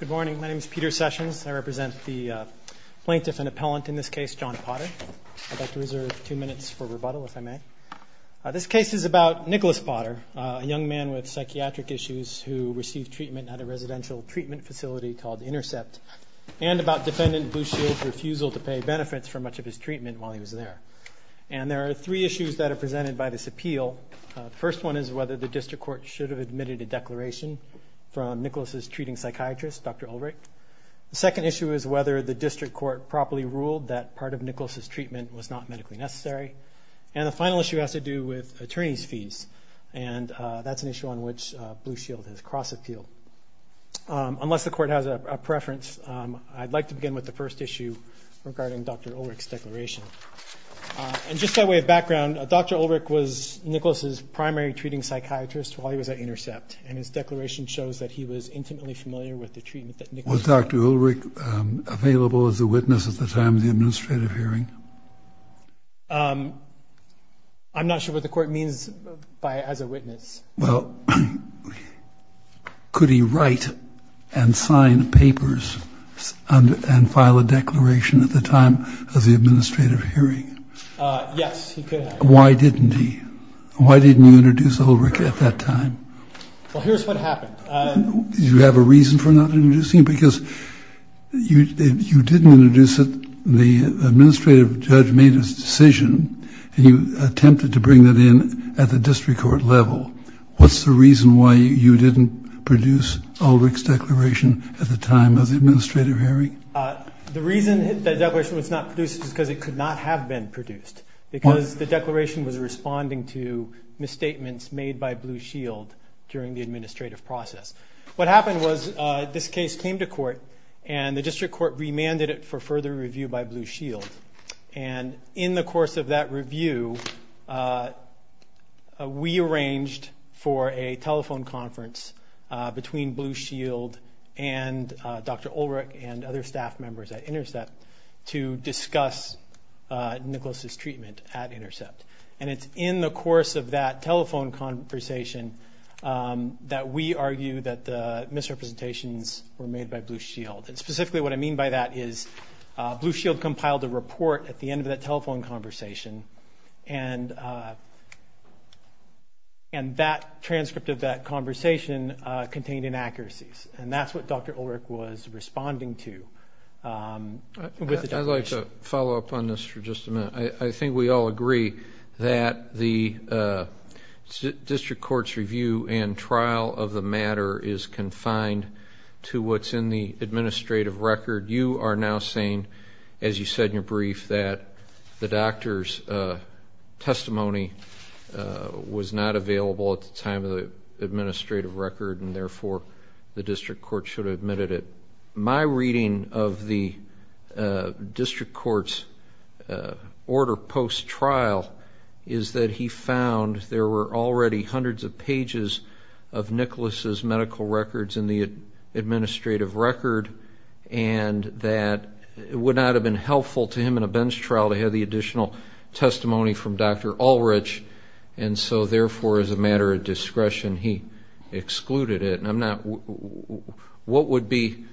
Good morning. My name is Peter Sessions. I represent the plaintiff and appellant in this case, John Potter. I'd like to reserve two minutes for rebuttal if I may. This case is about Nicholas Potter, a young man with psychiatric issues who received treatment at a residential treatment facility called Intercept, and about Defendant Blue Shield's refusal to pay benefits for much of his treatment while he was there. And there are three issues that are presented by this appeal. The first one is whether the district court should have admitted a declaration from Nicholas's treating psychiatrist, Dr. Ulrich. The second issue is whether the district court properly ruled that part of Nicholas's treatment was not medically necessary. And the final issue has to do with attorney's fees, and that's an issue on which Blue Shield has crossed the field. Unless the court has a preference, I'd like to begin with the first primary treating psychiatrist while he was at Intercept, and his declaration shows that he was intimately familiar with the treatment that Nicholas took. Was Dr. Ulrich available as a witness at the time of the administrative hearing? I'm not sure what the court means by as a witness. Well, could he write and sign papers and file a declaration at the time of the administrative hearing? Yes, he could. Why didn't he? Why didn't you introduce Ulrich at that time? Well, here's what happened. Did you have a reason for not introducing him? Because you didn't introduce him, the administrative judge made his decision, and you attempted to bring that in at the district court level. What's the reason why you didn't produce Ulrich's declaration at the time of the administrative hearing? The reason that declaration was not produced is because it could not have been produced. Why? Because the declaration was responding to misstatements made by Blue Shield during the administrative process. What happened was this case came to court and the district court remanded it for further review by Blue Shield, and in the course of that review, we arranged for a telephone conference between Blue Shield and Dr. Ulrich and other staff members at Intercept. And it's in the course of that telephone conversation that we argue that the misrepresentations were made by Blue Shield. And specifically what I mean by that is Blue Shield compiled a report at the end of that telephone conversation, and that transcript of that conversation contained inaccuracies. And that's what Dr. Ulrich was responding to with the declaration. I'd like to follow up on this for just a minute. I think we all agree that the district court's review and trial of the matter is confined to what's in the administrative record. You are now saying, as you said in your brief, that the doctor's testimony was not available at the time of the administrative record, and therefore the district court should have The district court's order post-trial is that he found there were already hundreds of pages of Nicholas's medical records in the administrative record, and that it would not have been helpful to him in a bench trial to have the additional testimony from Dr. Ulrich, and so therefore as a matter of discretion, he excluded it. What would be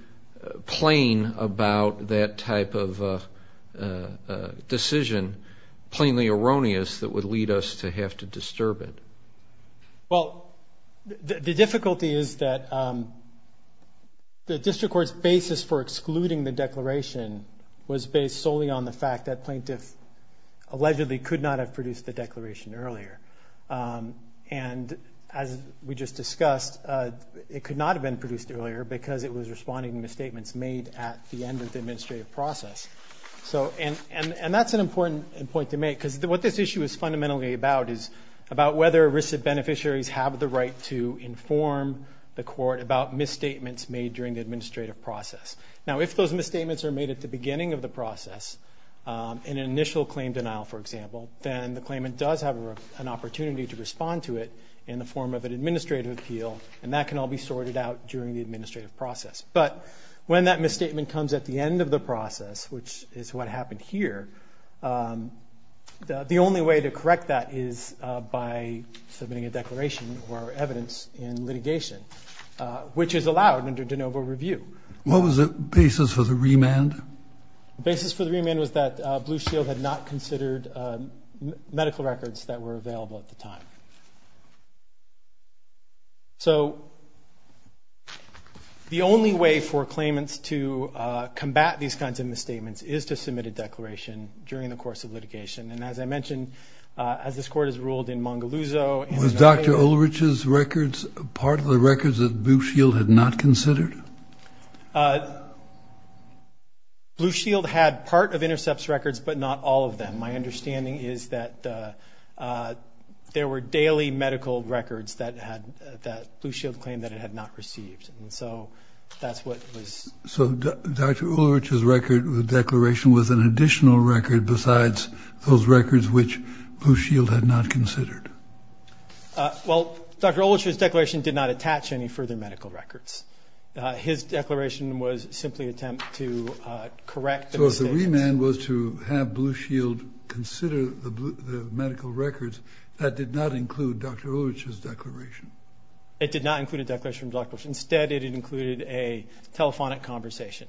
plain about that type of decision, plainly erroneous, that would lead us to have to disturb it? Well, the difficulty is that the district court's basis for excluding the declaration was based solely on the fact that plaintiff allegedly could not have produced the declaration earlier. And as we just discussed, it could not have been produced earlier because it was responding to misstatements made at the end of the administrative process. And that's an important point to make, because what this issue is fundamentally about is about whether arrested beneficiaries have the right to inform the court about misstatements made during the administrative process. Now, if those misstatements are made at the beginning of the process, in an initial claim denial, for example, then the claimant does have an opportunity to respond to it in the form of an administrative appeal, and that can all be sorted out during the administrative process. But when that misstatement comes at the end of the process, which is what happened here, the only way to correct that is by submitting a declaration or evidence in litigation, which is allowed under de novo review. What was the basis for the remand? The basis for the remand was that Blue Shield had not considered medical records that were The only way for claimants to combat these kinds of misstatements is to submit a declaration during the course of litigation. And as I mentioned, as this court has ruled in Mongoluzo Was Dr. Ulrich's records part of the records that Blue Shield had not considered? Blue Shield had part of Intercept's records, but not all of them. My understanding is that there were daily medical records that Blue Shield claimed that it had not received, and so that's what was... So Dr. Ulrich's record, the declaration, was an additional record besides those records which Blue Shield had not considered? Well, Dr. Ulrich's declaration did not attach any further medical records. His declaration was simply an attempt to correct the misstatements. The remand was to have Blue Shield consider the medical records. That did not include Dr. Ulrich's declaration. It did not include a declaration from Dr. Ulrich. Instead, it included a telephonic conversation,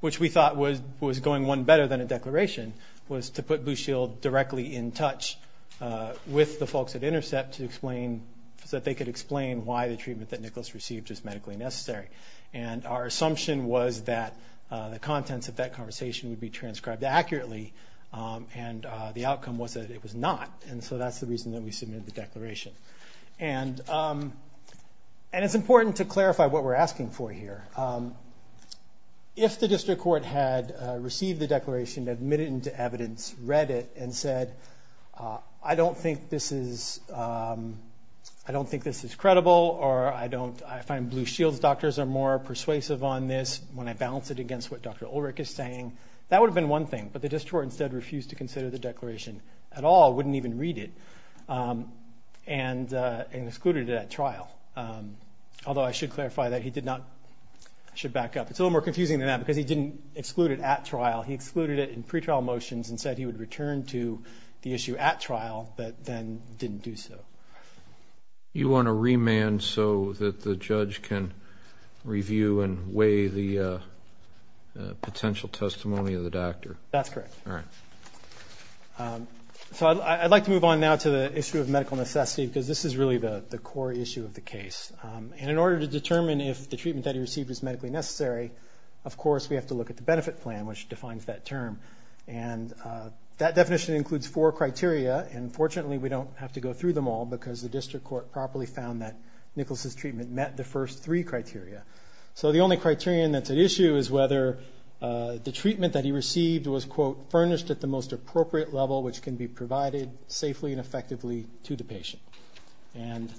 which we thought was going one better than a declaration, was to put Blue Shield directly in touch with the folks at Intercept to explain... so that they could explain why the treatment that Nicholas received is medically necessary. And our assumption was that the contents of that conversation would be transcribed accurately, and the outcome was that it was not, and so that's the reason that we submitted the declaration. And it's important to clarify what we're asking for here. If the district court had received the declaration, admitted it into evidence, read it, and said, I don't think this is credible, or I find Blue Shield's doctors are more persuasive on this when I balance it against what Dr. Ulrich is saying, that would have been one thing. But the district court instead refused to consider the declaration at all, wouldn't even read it, and excluded it at trial. Although I should clarify that he did not... I should back up. It's a little more confusing than that because he didn't exclude it at trial. He excluded it in pretrial motions and said he would return to the issue at trial, but then didn't do so. You want to remand so that the judge can review and weigh the potential testimony of the doctor? That's correct. All right. So I'd like to move on now to the issue of medical necessity because this is really the core issue of the case. And in order to determine if the treatment that he received is medically necessary, of course, we have to look at the benefit plan, which defines that term. And that definition includes four criteria, and fortunately we don't have to go through them all because the district court properly found that Nicholas's treatment met the first three criteria. So the only criterion that's at issue is whether the treatment that he received was, quote, furnished at the most appropriate level which can be provided safely and effectively to the patient. And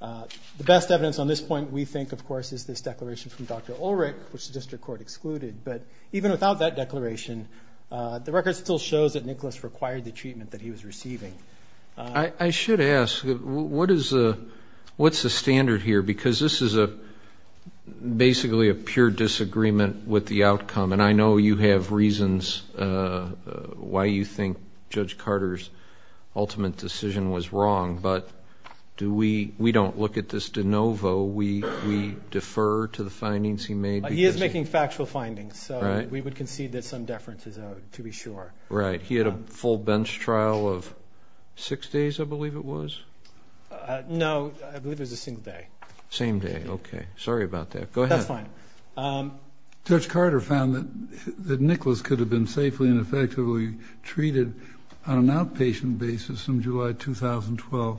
the best evidence on this point, we think, of course, is this declaration from Dr. Ulrich, which the district court excluded, but even without that declaration, the record still shows that Nicholas required the treatment that he was receiving. I should ask, what's the standard here? Because this is basically a pure disagreement with the outcome, and I know you have reasons why you think Judge Carter's ultimate decision was wrong, but we don't look at this de novo. We defer to the findings he made. He is making factual findings, so we would concede that some deference is owed, to be sure. Right. He had a full bench trial of six days, I believe it was? No, I believe it was a single day. Same day. Okay. Sorry about that. Go ahead. That's fine. Judge Carter found that Nicholas could have been safely and effectively treated on an outpatient basis from July 2012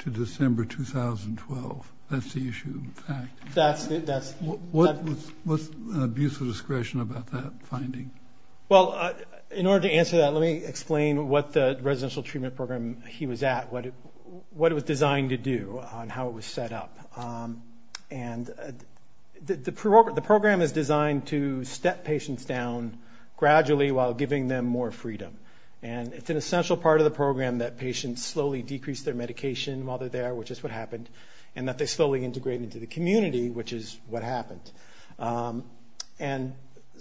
to December 2012. That's the issue, in fact. What's the abuse of discretion about that finding? Well, in order to answer that, let me explain what the residential treatment program he was at, what it was designed to do and how it was set up. The program is designed to step patients down gradually while giving them more freedom. It's an essential part of the program that patients slowly decrease their medication while they're there, which is what happened, and that they slowly integrate into the community, which is what happened.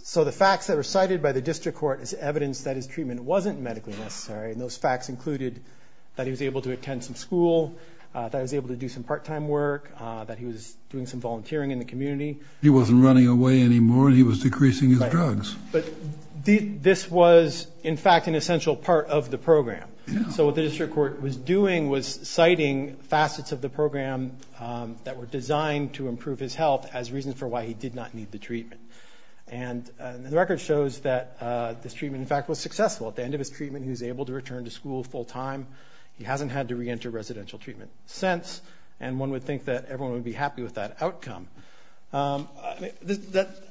So the facts that were cited by the district court is evidence that his treatment wasn't medically necessary, and those facts included that he was able to attend some school, that he was able to do some part-time work, that he was doing some volunteering in the community. He wasn't running away anymore, and he was decreasing his drugs. But this was, in fact, an essential part of the program. So what the district court was doing was citing facets of the program that were designed to improve his health as reasons for why he did not need the treatment. And the record shows that this treatment, in fact, was successful. At the end of his treatment, he was able to return to school full-time. He hasn't had to reenter residential treatment since, and one would think that everyone would be happy with that outcome. This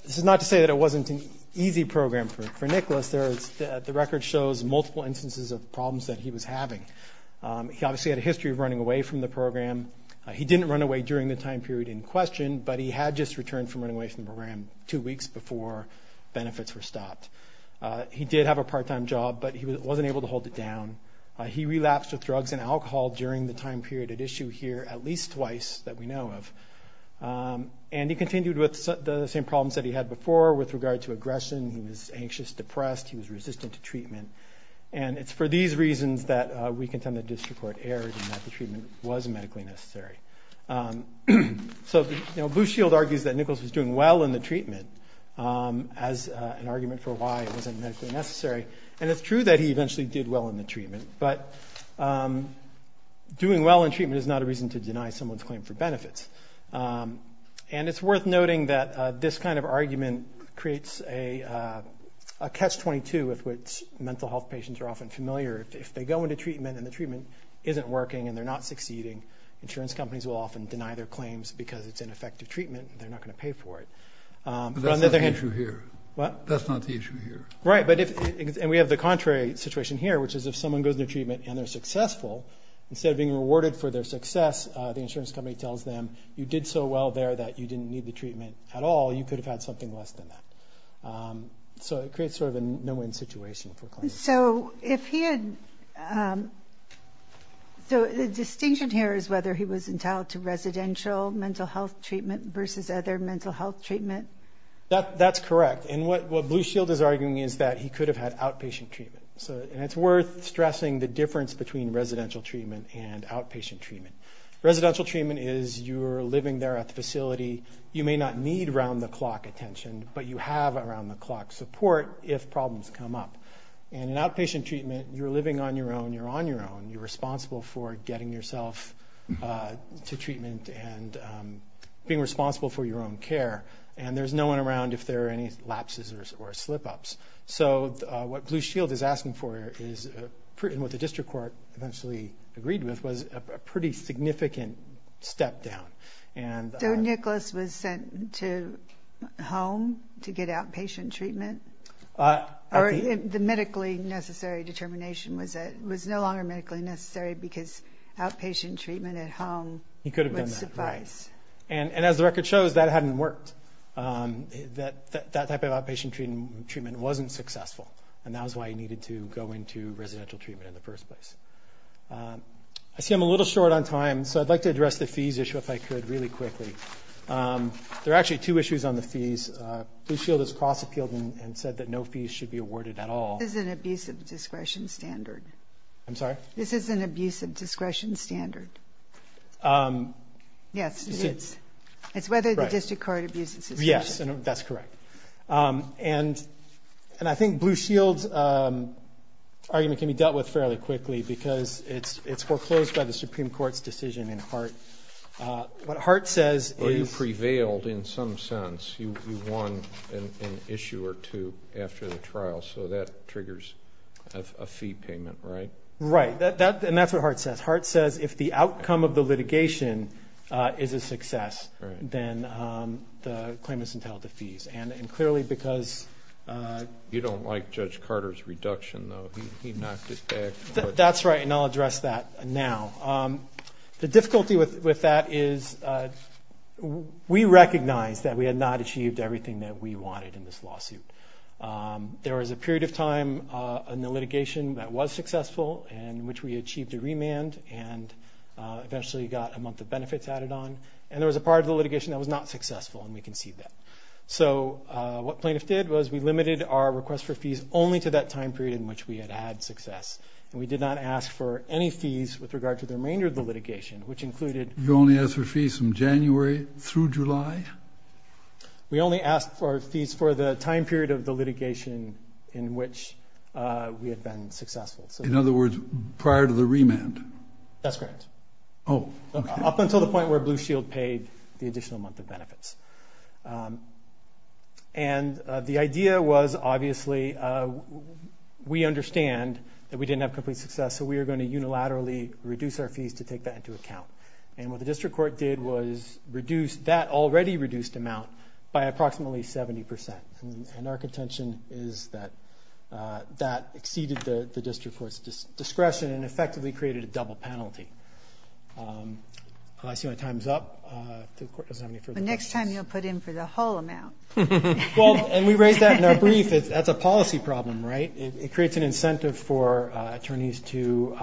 is not to say that it wasn't an easy program for Nicholas. The record shows multiple instances of problems that he was having. He obviously had a history of running away from the program. He didn't run away during the time period in question, but he had just returned from running away from the program two weeks before benefits were stopped. He did have a part-time job, but he wasn't able to hold it down. He relapsed with drugs and alcohol during the time period at issue here at least twice that we know of. And he continued with the same problems that he had before with regard to aggression. He was anxious, depressed. He was resistant to treatment. And it's for these reasons that we contend that district court erred and that the treatment was medically necessary. So Blue Shield argues that Nicholas was doing well in the treatment as an argument for why it wasn't medically necessary. And it's true that he eventually did well in the treatment, but doing well in treatment is not a reason to deny someone's claim for benefits. And it's worth noting that this kind of argument creates a catch-22 with which mental health patients are often familiar. If they go into treatment and the treatment isn't working and they're not succeeding, insurance companies will often deny their claims because it's ineffective treatment and they're not going to pay for it. But that's not the issue here. Right. And we have the contrary situation here, which is if someone goes into treatment and they're successful, instead of being rewarded for their success, the insurance company tells them, you did so well there that you didn't need the treatment at all. You could have had something less than that. So it creates sort of a no-win situation for claims. So the distinction here is whether he was entitled to residential mental health treatment versus other mental health treatment. That's correct. And what Blue Shield is arguing is that he could have had outpatient treatment. And it's worth stressing the difference between residential treatment and outpatient treatment. Residential treatment is you're living there at the facility. You may not need around-the-clock attention, but you have around-the-clock support if problems come up. And in outpatient treatment, you're living on your own, you're on your own. You're responsible for getting yourself to treatment and being responsible for your own care. And there's no one around if there are any lapses or slip-ups. So what Blue Shield is asking for is, and what the district court eventually agreed with, was a pretty significant step down. So Nicholas was sent to home to get outpatient treatment? Or the medically necessary determination was that it was no longer medically necessary because outpatient treatment at home would suffice. He could have done that, right. And as the record shows, that hadn't worked. That type of outpatient treatment wasn't successful, and that was why he needed to go into residential treatment in the first place. I see I'm a little short on time, so I'd like to address the fees issue if I could really quickly. There are actually two issues on the fees. Blue Shield has cross-appealed and said that no fees should be awarded at all. This is an abusive discretion standard. I'm sorry? This is an abusive discretion standard. Yes, it is. It's whether the district court abuses it. Yes, that's correct. And I think Blue Shield's argument can be dealt with fairly quickly because it's foreclosed by the Supreme Court's decision in Hart. What Hart says is- Or you prevailed in some sense. You won an issue or two after the trial, so that triggers a fee payment, right? Right. And that's what Hart says. Hart says if the outcome of the litigation is a success, then the claimants entail the fees. And clearly because- You don't like Judge Carter's reduction, though. He knocked it back. That's right, and I'll address that now. The difficulty with that is we recognize that we had not achieved everything that we wanted in this lawsuit. There was a period of time in the litigation that was successful in which we achieved a remand and eventually got a month of benefits added on. And there was a part of the litigation that was not successful, and we concede that. So what plaintiffs did was we limited our request for fees only to that time period in which we had had success. And we did not ask for any fees with regard to the remainder of the litigation, which included- You only asked for fees from January through July? We only asked for fees for the time period of the litigation in which we had been successful. In other words, prior to the remand? That's correct. Oh, okay. Up until the point where Blue Shield paid the additional month of benefits. And the idea was, obviously, we understand that we didn't have complete success, so we are going to unilaterally reduce our fees to take that into account. And what the district court did was reduce that already reduced amount by approximately 70%. And our contention is that that exceeded the district court's discretion and effectively created a double penalty. I see my time's up. The court doesn't have any further questions. Well, next time you'll put in for the whole amount. Well, and we raised that in our brief. That's a policy problem, right? It creates an incentive for attorneys to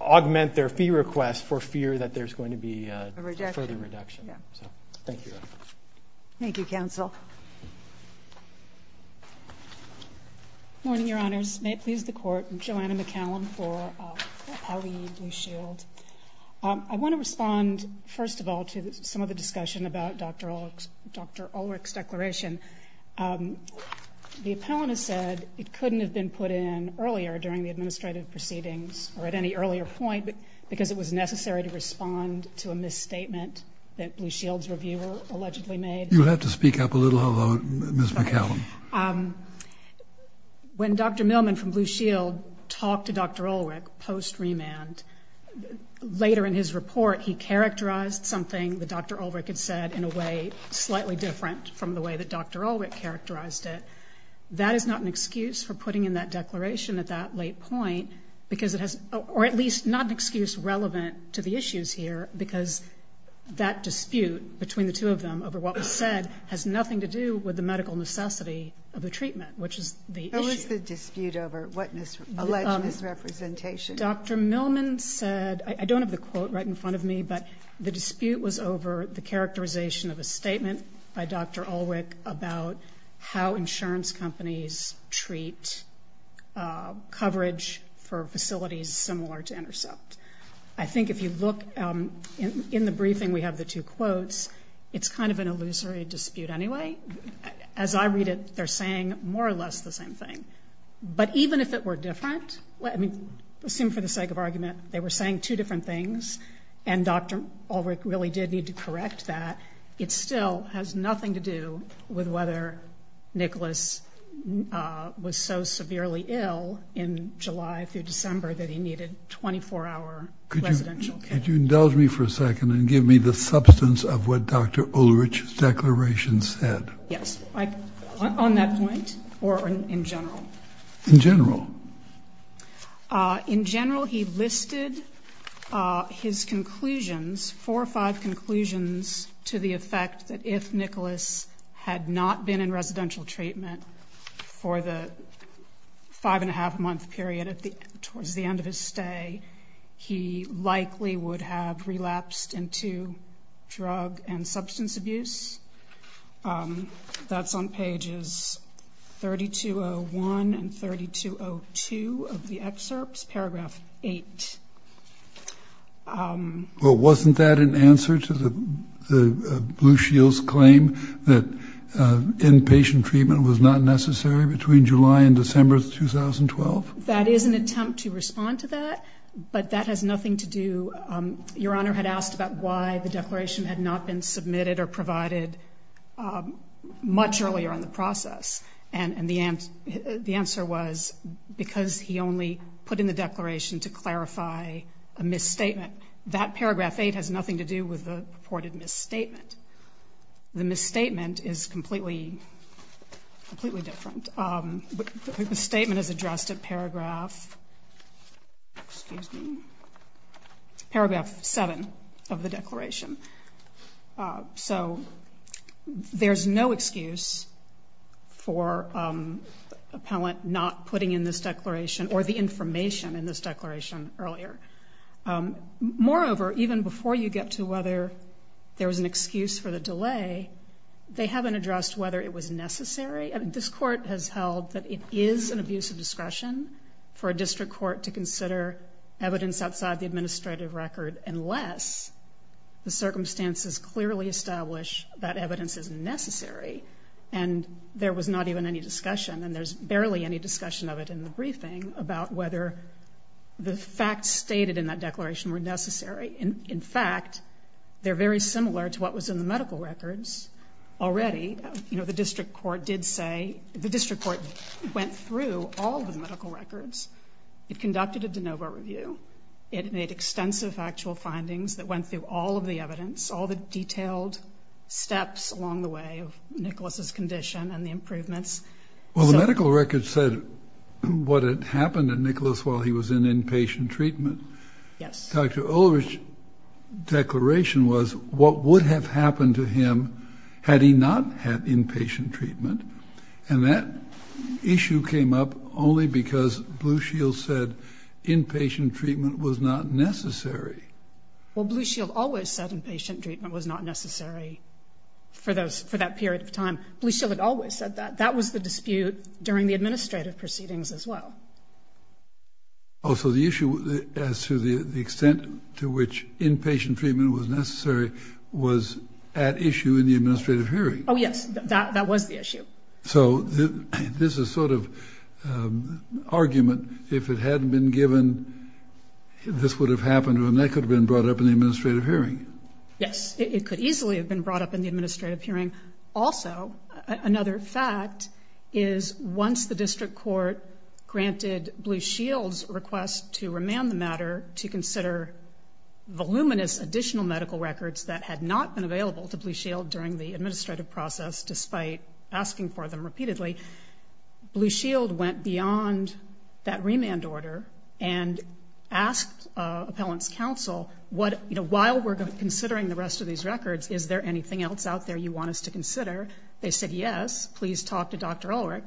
augment their fee request for fear that there's going to be a further reduction. So, thank you. Thank you, counsel. Good morning, Your Honors. May it please the Court, I'm Joanna McCallum for OLE Blue Shield. I want to respond, first of all, to some of the discussion about Dr. Ulrich's declaration. The appellant has said it couldn't have been put in earlier during the administrative proceedings or at any earlier point because it was necessary to respond to a misstatement that Blue Shield's reviewer allegedly made. You'll have to speak up a little, Ms. McCallum. When Dr. Millman from Blue Shield talked to Dr. Ulrich post-remand, later in his report, he characterized something that Dr. Ulrich had said in a way slightly different from the way that Dr. Ulrich characterized it. That is not an excuse for putting in that declaration at that late point, or at least not an excuse relevant to the issues here, because that dispute between the two of them over what was said has nothing to do with the medical necessity of the treatment, which is the issue. What was the dispute over? What alleged misrepresentation? I think Dr. Millman said, I don't have the quote right in front of me, but the dispute was over the characterization of a statement by Dr. Ulrich about how insurance companies treat coverage for facilities similar to Intercept. I think if you look in the briefing, we have the two quotes. It's kind of an illusory dispute anyway. As I read it, they're saying more or less the same thing. But even if it were different, I mean, assume for the sake of argument, they were saying two different things, and Dr. Ulrich really did need to correct that. It still has nothing to do with whether Nicholas was so severely ill in July through December that he needed 24-hour residential care. Could you indulge me for a second and give me the substance of what Dr. Ulrich's declaration said? Yes, on that point or in general? In general. In general, he listed his conclusions, four or five conclusions, to the effect that if Nicholas had not been in residential treatment for the five-and-a-half-month period towards the end of his stay, he likely would have relapsed into drug and substance abuse. That's on pages 3201 and 3202 of the excerpts, paragraph 8. Well, wasn't that an answer to Blue Shield's claim that inpatient treatment was not necessary between July and December of 2012? That is an attempt to respond to that, but that has nothing to do. Your Honor had asked about why the declaration had not been submitted or provided much earlier on the process, and the answer was because he only put in the declaration to clarify a misstatement. That paragraph 8 has nothing to do with the purported misstatement. The misstatement is completely different. The statement is addressed in paragraph 7 of the declaration. So there's no excuse for the appellant not putting in this declaration or the information in this declaration earlier. Moreover, even before you get to whether there was an excuse for the delay, they haven't addressed whether it was necessary. This Court has held that it is an abuse of discretion for a district court to consider evidence outside the administrative record unless the circumstances clearly establish that evidence is necessary. And there was not even any discussion, and there's barely any discussion of it in the briefing, about whether the facts stated in that declaration were necessary. In fact, they're very similar to what was in the medical records already. You know, the district court did say the district court went through all the medical records. It conducted a de novo review. It made extensive actual findings that went through all of the evidence, all the detailed steps along the way of Nicholas's condition and the improvements. Well, the medical records said what had happened to Nicholas while he was in inpatient treatment. Yes. Dr. Ulrich's declaration was what would have happened to him had he not had inpatient treatment, and that issue came up only because Blue Shield said inpatient treatment was not necessary. Well, Blue Shield always said inpatient treatment was not necessary for that period of time. Blue Shield had always said that. That was the dispute during the administrative proceedings as well. Oh, so the issue as to the extent to which inpatient treatment was necessary was at issue in the administrative hearing. Oh, yes, that was the issue. So this is sort of an argument. If it hadn't been given, this would have happened, and that could have been brought up in the administrative hearing. Yes, it could easily have been brought up in the administrative hearing. Also, another fact is once the district court granted Blue Shield's request to remand the matter to consider voluminous additional medical records that had not been available to Blue Shield during the administrative process, despite asking for them repeatedly, Blue Shield went beyond that remand order and asked appellant's counsel, while we're considering the rest of these records, is there anything else out there you want us to consider? They said, yes, please talk to Dr. Ulrich.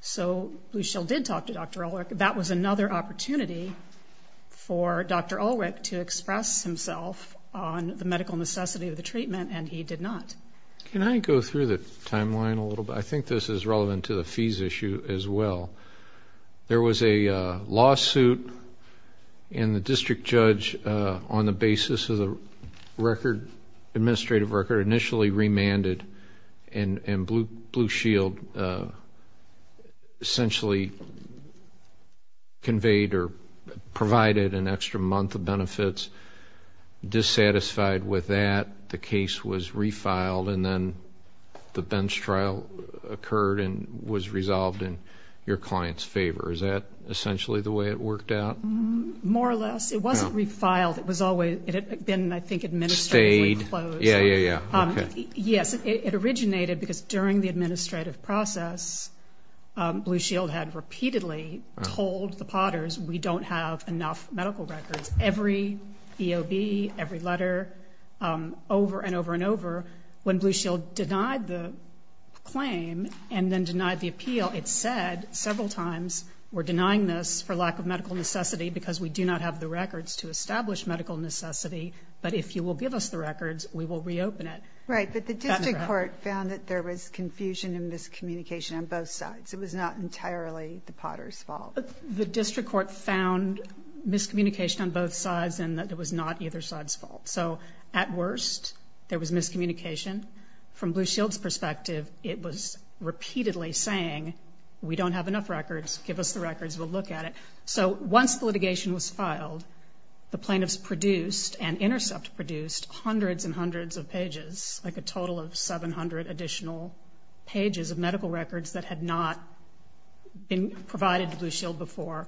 So Blue Shield did talk to Dr. Ulrich. That was another opportunity for Dr. Ulrich to express himself on the medical necessity of the treatment, and he did not. Can I go through the timeline a little bit? I think this is relevant to the fees issue as well. There was a lawsuit, and the district judge on the basis of the administrative record initially remanded, and Blue Shield essentially conveyed or provided an extra month of benefits. Dissatisfied with that, the case was refiled, and then the bench trial occurred and was resolved in your client's favor. Is that essentially the way it worked out? More or less. It wasn't refiled. It had been, I think, administratively closed. Stayed. Yeah, yeah, yeah. Yes, it originated because during the administrative process, Blue Shield had repeatedly told the Potters we don't have enough medical records. Every EOB, every letter, over and over and over. When Blue Shield denied the claim and then denied the appeal, it said several times, we're denying this for lack of medical necessity because we do not have the records to establish medical necessity, but if you will give us the records, we will reopen it. Right, but the district court found that there was confusion and miscommunication on both sides. It was not entirely the Potters' fault. The district court found miscommunication on both sides and that it was not either side's fault. So at worst, there was miscommunication. From Blue Shield's perspective, it was repeatedly saying we don't have enough records. Give us the records. We'll look at it. So once the litigation was filed, the plaintiffs produced and Intercept produced hundreds and hundreds of pages, like a total of 700 additional pages of medical records that had not been provided to Blue Shield before.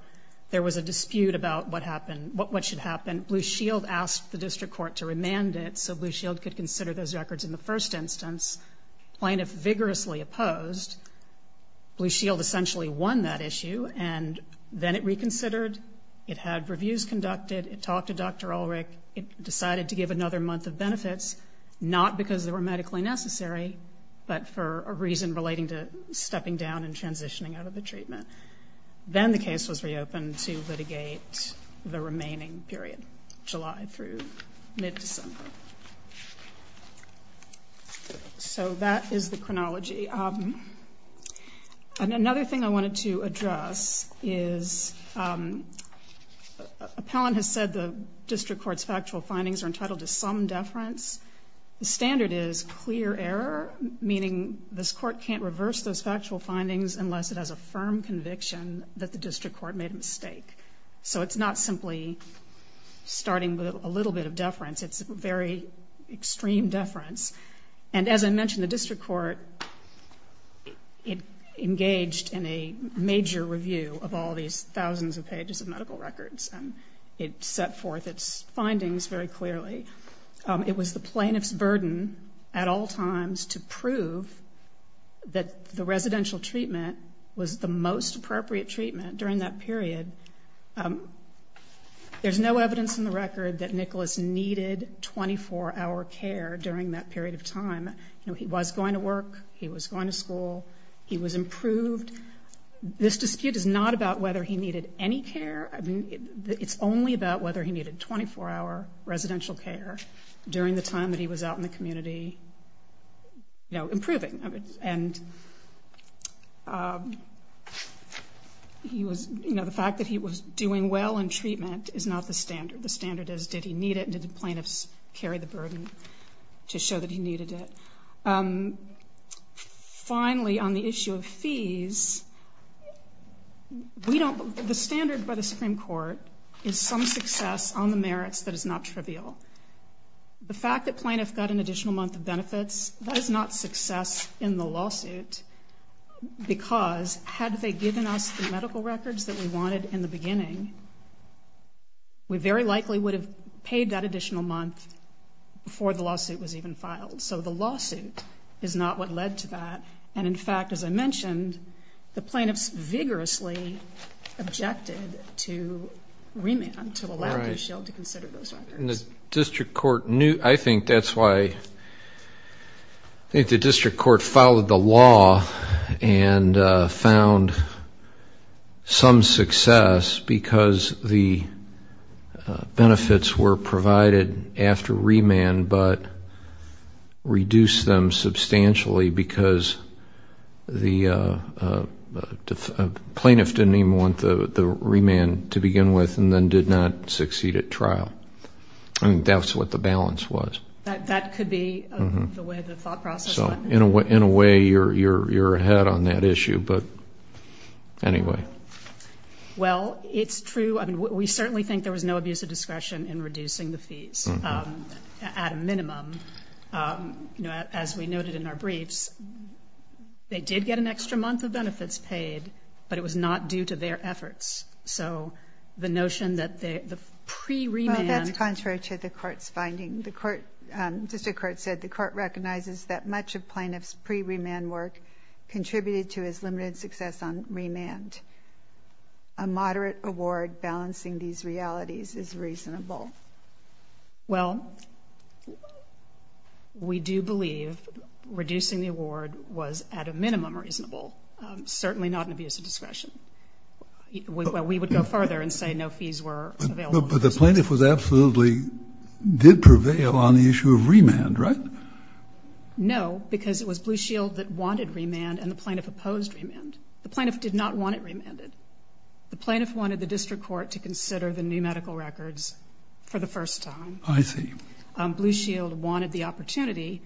There was a dispute about what happened, what should happen. Blue Shield asked the district court to remand it so Blue Shield could consider those records in the first instance. Plaintiffs vigorously opposed. Blue Shield essentially won that issue and then it reconsidered. It had reviews conducted. It talked to Dr. Ulrich. It decided to give another month of benefits, not because they were medically necessary, but for a reason relating to stepping down and transitioning out of the treatment. Then the case was reopened to litigate the remaining period, July through mid-December. So that is the chronology. Another thing I wanted to address is Appellant has said the district court's factual findings are entitled to some deference. The standard is clear error, meaning this court can't reverse those factual findings unless it has a firm conviction that the district court made a mistake. So it's not simply starting with a little bit of deference. It's very extreme deference. As I mentioned, the district court engaged in a major review of all these thousands of pages of medical records. It set forth its findings very clearly. It was the plaintiff's burden at all times to prove that the residential treatment was the most appropriate treatment during that period. There's no evidence in the record that Nicholas needed 24-hour care during that period of time. He was going to work. He was going to school. He was improved. This dispute is not about whether he needed any care. It's only about whether he needed 24-hour residential care during the time that he was out in the community improving. And the fact that he was doing well in treatment is not the standard. The standard is did he need it and did the plaintiffs carry the burden to show that he needed it. Finally, on the issue of fees, the standard by the Supreme Court is some success on the merits that is not trivial. The fact that plaintiffs got an additional month of benefits, that is not success in the lawsuit, because had they given us the medical records that we wanted in the beginning, we very likely would have paid that additional month before the lawsuit was even filed. So the lawsuit is not what led to that. And, in fact, as I mentioned, the plaintiffs vigorously objected to remand, to allow Dishield to consider those records. I think that's why I think the district court followed the law and found some success because the benefits were provided after remand but reduced them substantially because the plaintiff didn't even want the remand to begin with and then did not succeed at trial. I think that's what the balance was. That could be the way the thought process went. In a way, you're ahead on that issue, but anyway. Well, it's true. We certainly think there was no abuse of discretion in reducing the fees at a minimum. As we noted in our briefs, they did get an extra month of benefits paid, but it was not due to their efforts. So the notion that the pre-remand- Well, that's contrary to the court's finding. The district court said the court recognizes that much of plaintiff's pre-remand work contributed to his limited success on remand. A moderate award balancing these realities is reasonable. Well, we do believe reducing the award was at a minimum reasonable, certainly not an abuse of discretion. We would go further and say no fees were available. But the plaintiff absolutely did prevail on the issue of remand, right? No, because it was Blue Shield that wanted remand and the plaintiff opposed remand. The plaintiff did not want it remanded. The plaintiff wanted the district court to consider the new medical records for the first time. I see. Blue Shield wanted the opportunity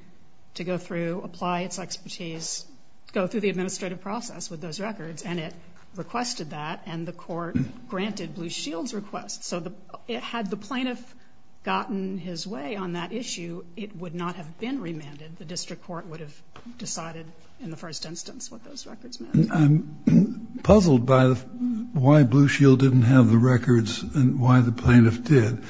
to go through, apply its expertise, go through the administrative process with those records, and it requested that, and the court granted Blue Shield's request. So had the plaintiff gotten his way on that issue, it would not have been remanded. The district court would have decided in the first instance what those records meant. I'm puzzled by why Blue Shield didn't have the records and why the plaintiff did,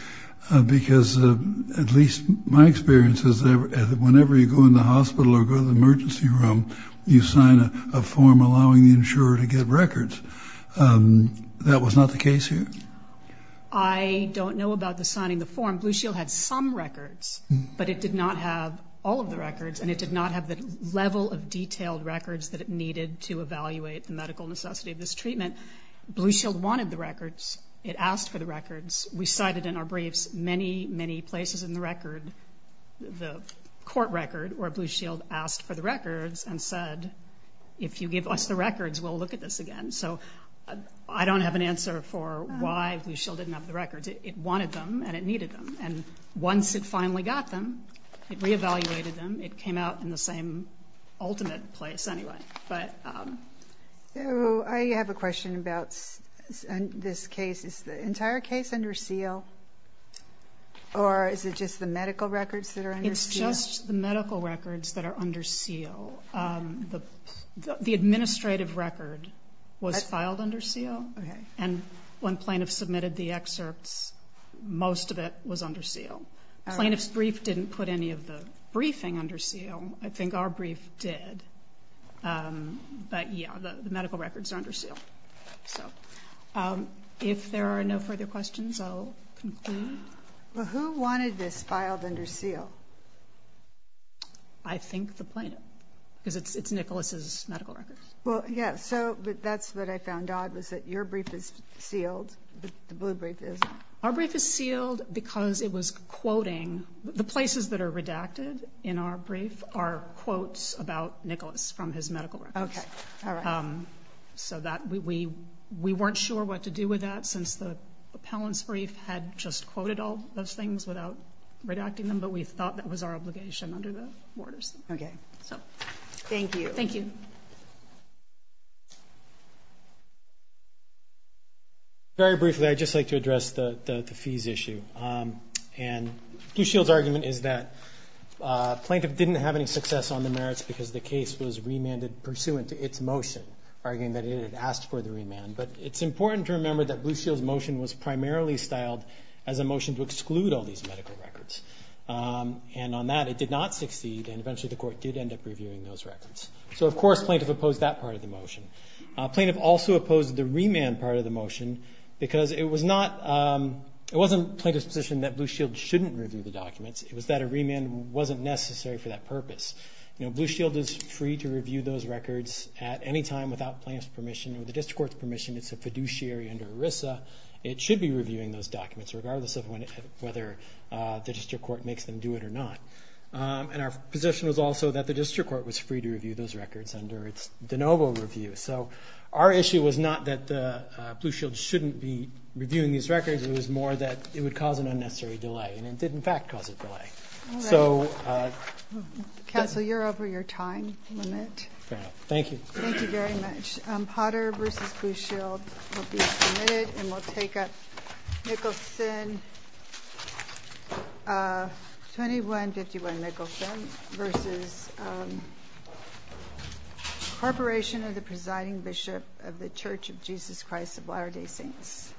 because at least my experience is that whenever you go in the hospital or go to the emergency room, you sign a form allowing the insurer to get records. That was not the case here? I don't know about the signing the form. Blue Shield had some records, but it did not have all of the records, and it did not have the level of detailed records that it needed to evaluate the medical necessity of this treatment. Blue Shield wanted the records. It asked for the records. We cited in our briefs many, many places in the record, the court record, where Blue Shield asked for the records and said, if you give us the records, we'll look at this again. So I don't have an answer for why Blue Shield didn't have the records. It wanted them and it needed them, and once it finally got them, it reevaluated them. It came out in the same ultimate place anyway. I have a question about this case. Is the entire case under seal, or is it just the medical records that are under seal? It's just the medical records that are under seal. The administrative record was filed under seal, and when plaintiffs submitted the excerpts, most of it was under seal. Plaintiffs' brief didn't put any of the briefing under seal. I think our brief did. But, yeah, the medical records are under seal. If there are no further questions, I'll conclude. Who wanted this filed under seal? I think the plaintiff, because it's Nicholas's medical records. Well, yeah, so that's what I found odd, was that your brief is sealed, the Blue brief isn't. Our brief is sealed because it was quoting. The places that are redacted in our brief are quotes about Nicholas from his medical records. Okay, all right. So we weren't sure what to do with that, since the appellant's brief had just quoted all those things without redacting them, but we thought that was our obligation under the borders. Okay. Thank you. Thank you. Very briefly, I'd just like to address the fees issue. And Blue Shield's argument is that plaintiff didn't have any success on the merits because the case was remanded pursuant to its motion, arguing that it had asked for the remand. But it's important to remember that Blue Shield's motion was primarily styled as a motion to exclude all these medical records. And on that, it did not succeed, and eventually the court did end up reviewing those records. So, of course, plaintiff opposed that part of the motion. Plaintiff also opposed the remand part of the motion because it was not plaintiff's position that Blue Shield shouldn't review the documents. It was that a remand wasn't necessary for that purpose. You know, Blue Shield is free to review those records at any time without plaintiff's permission or the district court's permission. It's a fiduciary under ERISA. It should be reviewing those documents, regardless of whether the district court makes them do it or not. And our position was also that the district court was free to review those records under its de novo review. So our issue was not that Blue Shield shouldn't be reviewing these records. It was more that it would cause an unnecessary delay. And it did, in fact, cause a delay. Counsel, you're over your time limit. Thank you. Thank you very much. Potter v. Blue Shield will be submitted. And we'll take up Mickelson, 2151 Mickelson v. Corporation of the Presiding Bishop of the Church of Jesus Christ of Latter-day Saints.